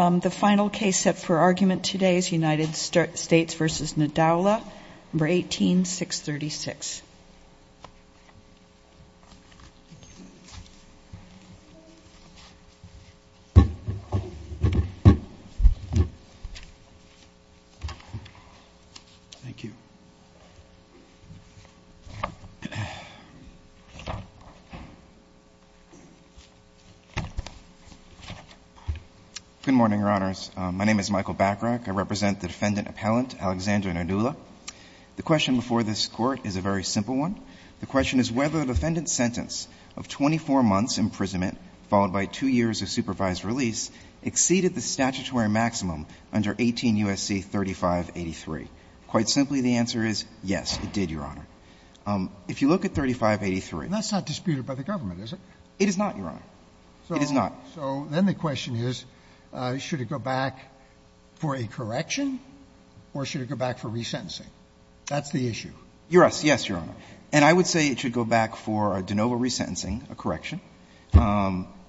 The final case set for argument today is U.S. v. Ndala, No. 18-636. MR. BACKRACK Good morning, Your Honors. My name is Michael Backrack. I represent the Defendant Appellant Alexander Ndala. The question before this Court is a very simple one. The question is whether the defendant's sentence of 24 months' imprisonment followed by 2 years of supervised release exceeded the statutory maximum under 18 U.S.C. 3583. Quite simply, the answer is yes, it did, Your Honor. If you look at 3583 ---- Sotomayor That's not disputed by the government, is it? MR. BACKRACK It is not, Your Honor. It is not. Sotomayor So then the question is, should it go back for a correction, or should it go back for resentencing? That's the issue. MR. BACKRACK Yes, Your Honor. And I would say it should go back for de novo resentencing, a correction,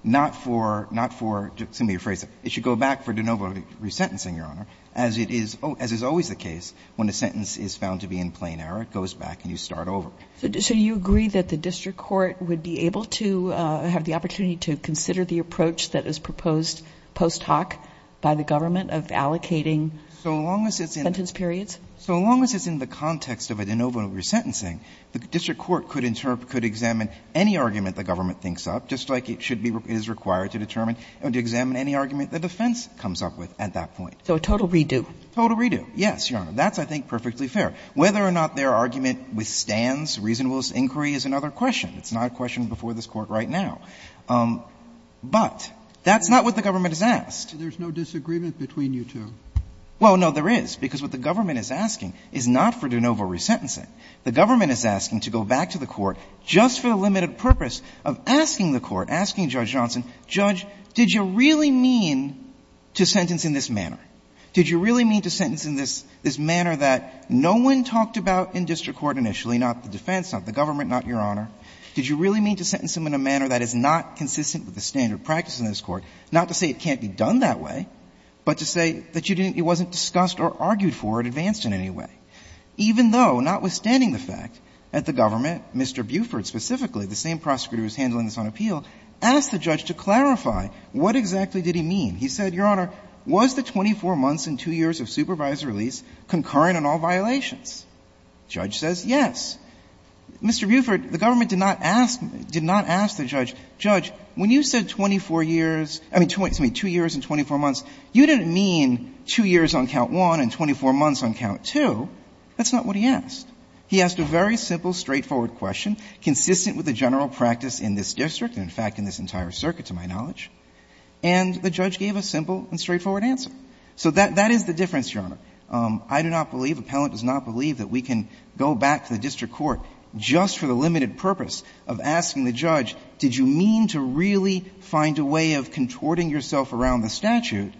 not for ---- excuse me, a phrase ---- it should go back for de novo resentencing, Your Honor, as it is ---- as is always the case when a sentence is found to be in plain error, it goes back and you start over. Kagan So you agree that the district court would be able to have the opportunity to consider the approach that is proposed post hoc by the government of allocating sentence periods? MR. BACKRACK So long as it's in the context of a de novo resentencing, the district court could examine any argument the government thinks up, just like it should be ---- is required to determine, to examine any argument the defense comes up with at that point. Kagan So a total redo. MR. BACKRACK Total redo, yes, Your Honor. That's, I think, perfectly fair. Whether or not their argument withstands reasonable inquiry is another question. It's not a question before this Court right now. But that's not what the government has asked. Kennedy So there's no disagreement between you two? MR. BACKRACK Well, no, there is, because what the government is asking is not for de novo resentencing. The government is asking to go back to the court just for the limited purpose of asking the court, asking Judge Johnson, Judge, did you really mean to sentence in this manner? Did you really mean to sentence in this manner that no one talked about in district court initially, not the defense, not the government, not Your Honor? Did you really mean to sentence him in a manner that is not consistent with the standard of practice in this Court, not to say it can't be done that way, but to say that you didn't, it wasn't discussed or argued for or advanced in any way, even though, notwithstanding the fact that the government, Mr. Buford specifically, the same prosecutor who's handling this on appeal, asked the judge to clarify what exactly did he mean. He said, Your Honor, was the 24 months and 2 years of supervisory release concurrent in all violations? The judge says yes. Mr. Buford, the government did not ask, did not ask the judge, Judge, when you said 24 years, I mean, 2 years and 24 months, you didn't mean 2 years on count one and 24 months on count two. That's not what he asked. He asked a very simple, straightforward question, consistent with the general practice in this district and, in fact, in this entire circuit, to my knowledge, and the judge gave a simple and straightforward answer. So that is the difference, Your Honor. I do not believe, appellant does not believe that we can go back to the district court just for the limited purpose of asking the judge, did you mean to really find a way of contorting yourself around the statute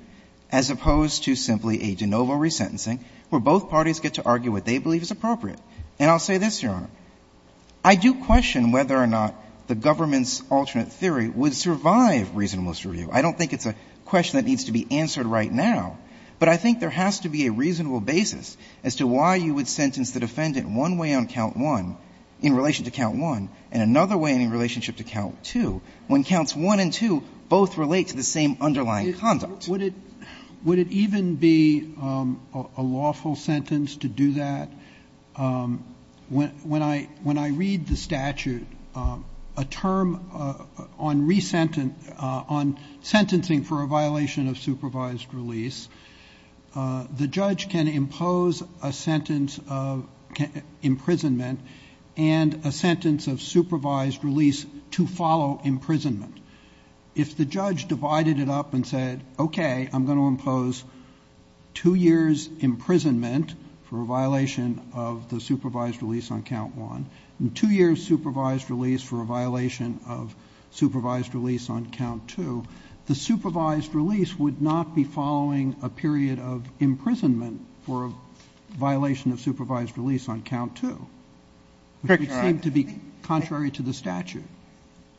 as opposed to simply a de novo resentencing, where both parties get to argue what they believe is appropriate. And I'll say this, Your Honor, I do question whether or not the government's alternate theory would survive reasonableness review. I don't think it's a question that needs to be answered right now, but I think there has to be a reasonable basis as to why you would sentence the defendant one way on count one in relation to count one and another way in relationship to count two when the counts one and two both relate to the same underlying conduct. Roberts, would it even be a lawful sentence to do that? When I read the statute, a term on resentencing, on sentencing for a violation of supervised release, the judge can impose a sentence of imprisonment and a sentence of supervised release to follow imprisonment. If the judge divided it up and said, okay, I'm going to impose two years' imprisonment for a violation of the supervised release on count one and two years' supervised release for a violation of supervised release on count two, the supervised release would not be following a period of imprisonment for a violation of supervised release on count two. It would seem to be contrary to the statute.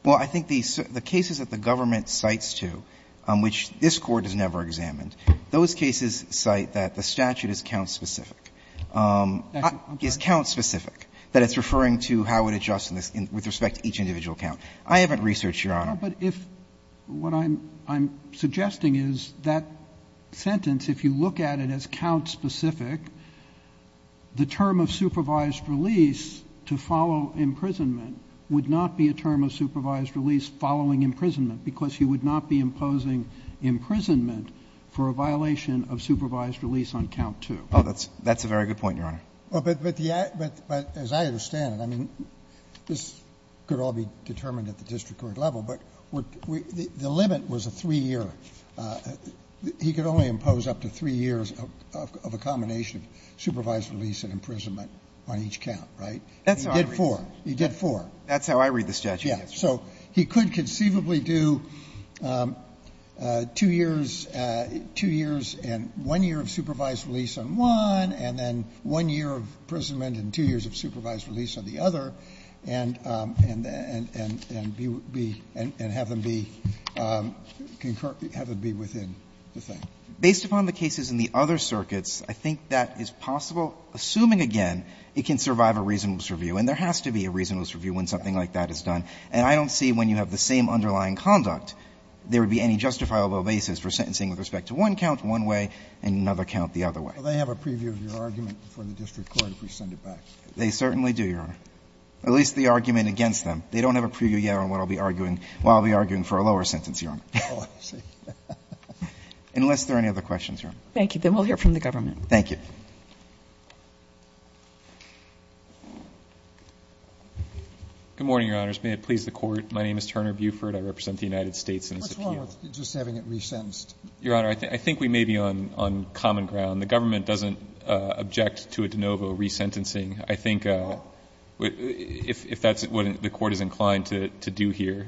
Well, I think the cases that the government cites to, which this Court has never examined, those cases cite that the statute is count-specific. It's count-specific, that it's referring to how it adjusts with respect to each individual count. I haven't researched, Your Honor. But if what I'm suggesting is that sentence, if you look at it as count-specific, the term of supervised release to follow imprisonment would not be a term of supervised release following imprisonment, because you would not be imposing imprisonment for a violation of supervised release on count two. Oh, that's a very good point, Your Honor. But as I understand it, I mean, this could all be determined at the district court level, but the limit was a three-year. He could only impose up to three years of a combination of supervised release and imprisonment on each count, right? He did four. He did four. That's how I read the statute. Yes. So he could conceivably do two years, two years and one year of supervised release on one, and then one year of imprisonment and two years of supervised release on the other, and be, and have them be concurrently, concurrently have it be within the thing. Based upon the cases in the other circuits, I think that is possible, assuming again, it can survive a reasonableness review. And there has to be a reasonableness review when something like that is done. And I don't see when you have the same underlying conduct, there would be any justifiable basis for sentencing with respect to one count one way and another count the other way. Well, they have a preview of your argument for the district court if we send it back. They certainly do, Your Honor, at least the argument against them. They don't have a preview yet on what I'll be arguing. Well, I'll be arguing for a lower sentence, Your Honor. Oh, I see. Unless there are any other questions, Your Honor. Thank you. Then we'll hear from the government. Thank you. Good morning, Your Honors. May it please the court. My name is Turner Buford. I represent the United States. What's wrong with just having it re-sentenced? Your Honor, I think we may be on common ground. The government doesn't object to a de novo re-sentencing. I think if that's what the court is inclined to do here.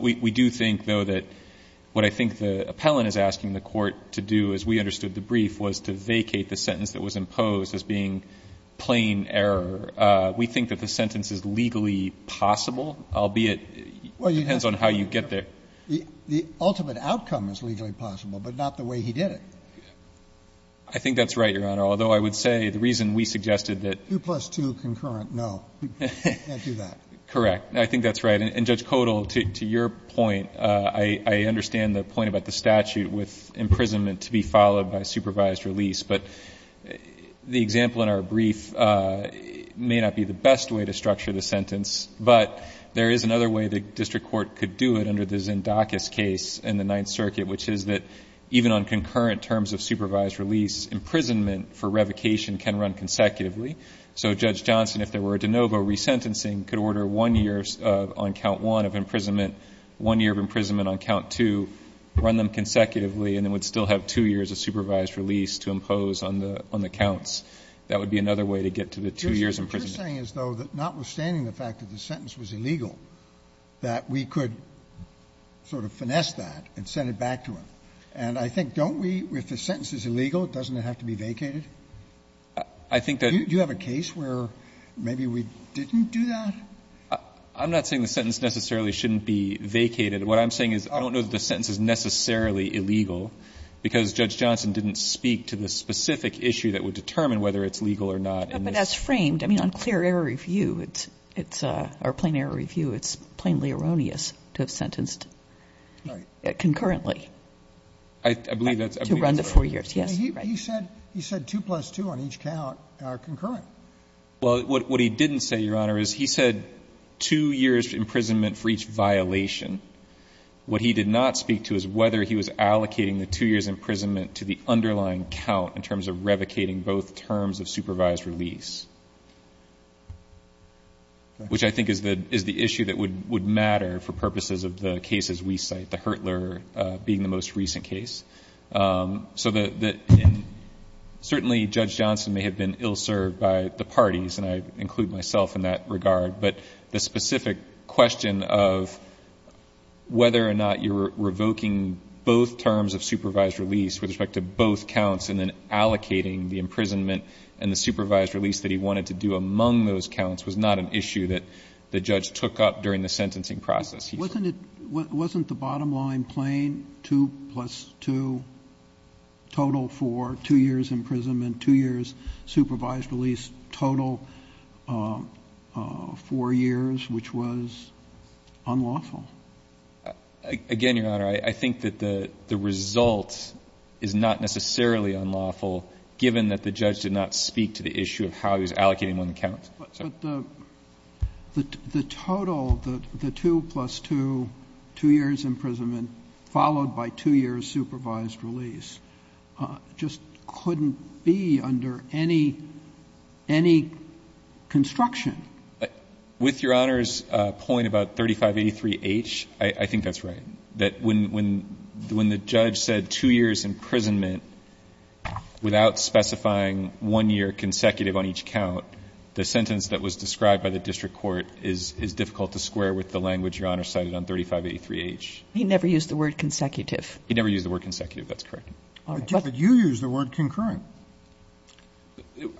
We do think, though, that what I think the appellant is asking the court to do, as we understood the brief, was to vacate the sentence that was imposed as being plain error. We think that the sentence is legally possible, albeit it depends on how you get there. The ultimate outcome is legally possible, but not the way he did it. I think that's right, Your Honor, although I would say the reason we suggested that the two plus two concurrent, no, we can't do that. Correct. I think that's right. Judge Codall, to your point, I understand the point about the statute with imprisonment to be followed by supervised release. But the example in our brief may not be the best way to structure the sentence, but there is another way the district court could do it under the Zendakis case in the Ninth Circuit, which is that even on concurrent terms of supervised release, imprisonment for revocation can run consecutively. So Judge Johnson, if there were a de novo resentencing, could order one year on count one of imprisonment, one year of imprisonment on count two, run them consecutively, and then would still have two years of supervised release to impose on the counts. That would be another way to get to the two years of imprisonment. You're saying as though that notwithstanding the fact that the sentence was illegal, that we could sort of finesse that and send it back to him. And I think, don't we, if the sentence is illegal, doesn't it have to be vacated? I think that's right. Do you have a case where maybe we didn't do that? I'm not saying the sentence necessarily shouldn't be vacated. What I'm saying is I don't know that the sentence is necessarily illegal, because Judge Johnson didn't speak to the specific issue that would determine whether it's legal or not. But as framed, I mean, on clear error review, it's or plain error review, it's plainly erroneous to have sentenced concurrently. I believe that's right. To run the four years, yes. He said two plus two on each count are concurrent. Well, what he didn't say, Your Honor, is he said two years imprisonment for each violation. What he did not speak to is whether he was allocating the two years imprisonment to the underlying count in terms of revocating both terms of supervised release, which I think is the issue that would matter for purposes of the cases we cite, the Hurtler being the most recent case. So that certainly Judge Johnson may have been ill-served by the parties, and I include myself in that regard, but the specific question of whether or not you're revoking both terms of supervised release with respect to both counts and then allocating the imprisonment and the supervised release that he wanted to do among those counts was not an issue that the judge took up during the sentencing process. Wasn't it, wasn't the bottom line plain two plus two total for two years imprisonment, two years supervised release total four years, which was unlawful? Again, Your Honor, I think that the result is not necessarily unlawful, given that the judge did not speak to the issue of how he was allocating one count. But the total, the two plus two, two years imprisonment, followed by two years supervised release, just couldn't be under any construction. With Your Honor's point about 3583H, I think that's right, that when the judge said two years imprisonment without specifying one year consecutive on each count, the sentence that was described by the district court is difficult to square with the language Your Honor cited on 3583H. He never used the word consecutive. He never used the word consecutive, that's correct. But you used the word concurrent.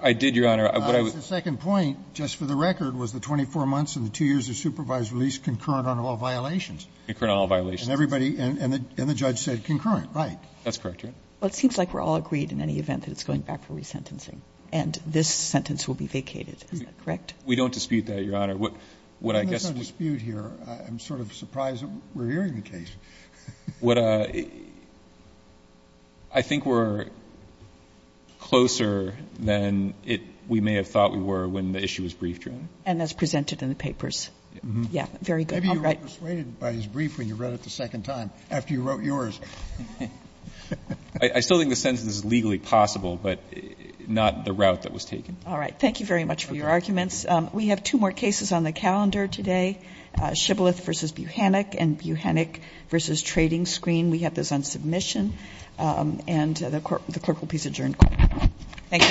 I did, Your Honor. The second point, just for the record, was the 24 months and the two years of supervised release concurrent on all violations. Concurrent on all violations. And everybody, and the judge said concurrent, right? That's correct, Your Honor. Well, it seems like we're all agreed in any event that it's going back for resentencing. And this sentence will be vacated. Is that correct? We don't dispute that, Your Honor. What I guess we're going to dispute here, I'm sort of surprised that we're hearing the case. What I think we're closer than we may have thought we were when the issue was briefed here. And as presented in the papers. Yes. Very good. Maybe you were persuaded by his brief when you read it the second time, after you wrote yours. I still think the sentence is legally possible, but not the route that was taken. All right. Thank you very much for your arguments. We have two more cases on the calendar today. Shibboleth v. Buchanek and Buchanek v. Trading Screen. We have those on submission. And the Court will please adjourn. Thank you.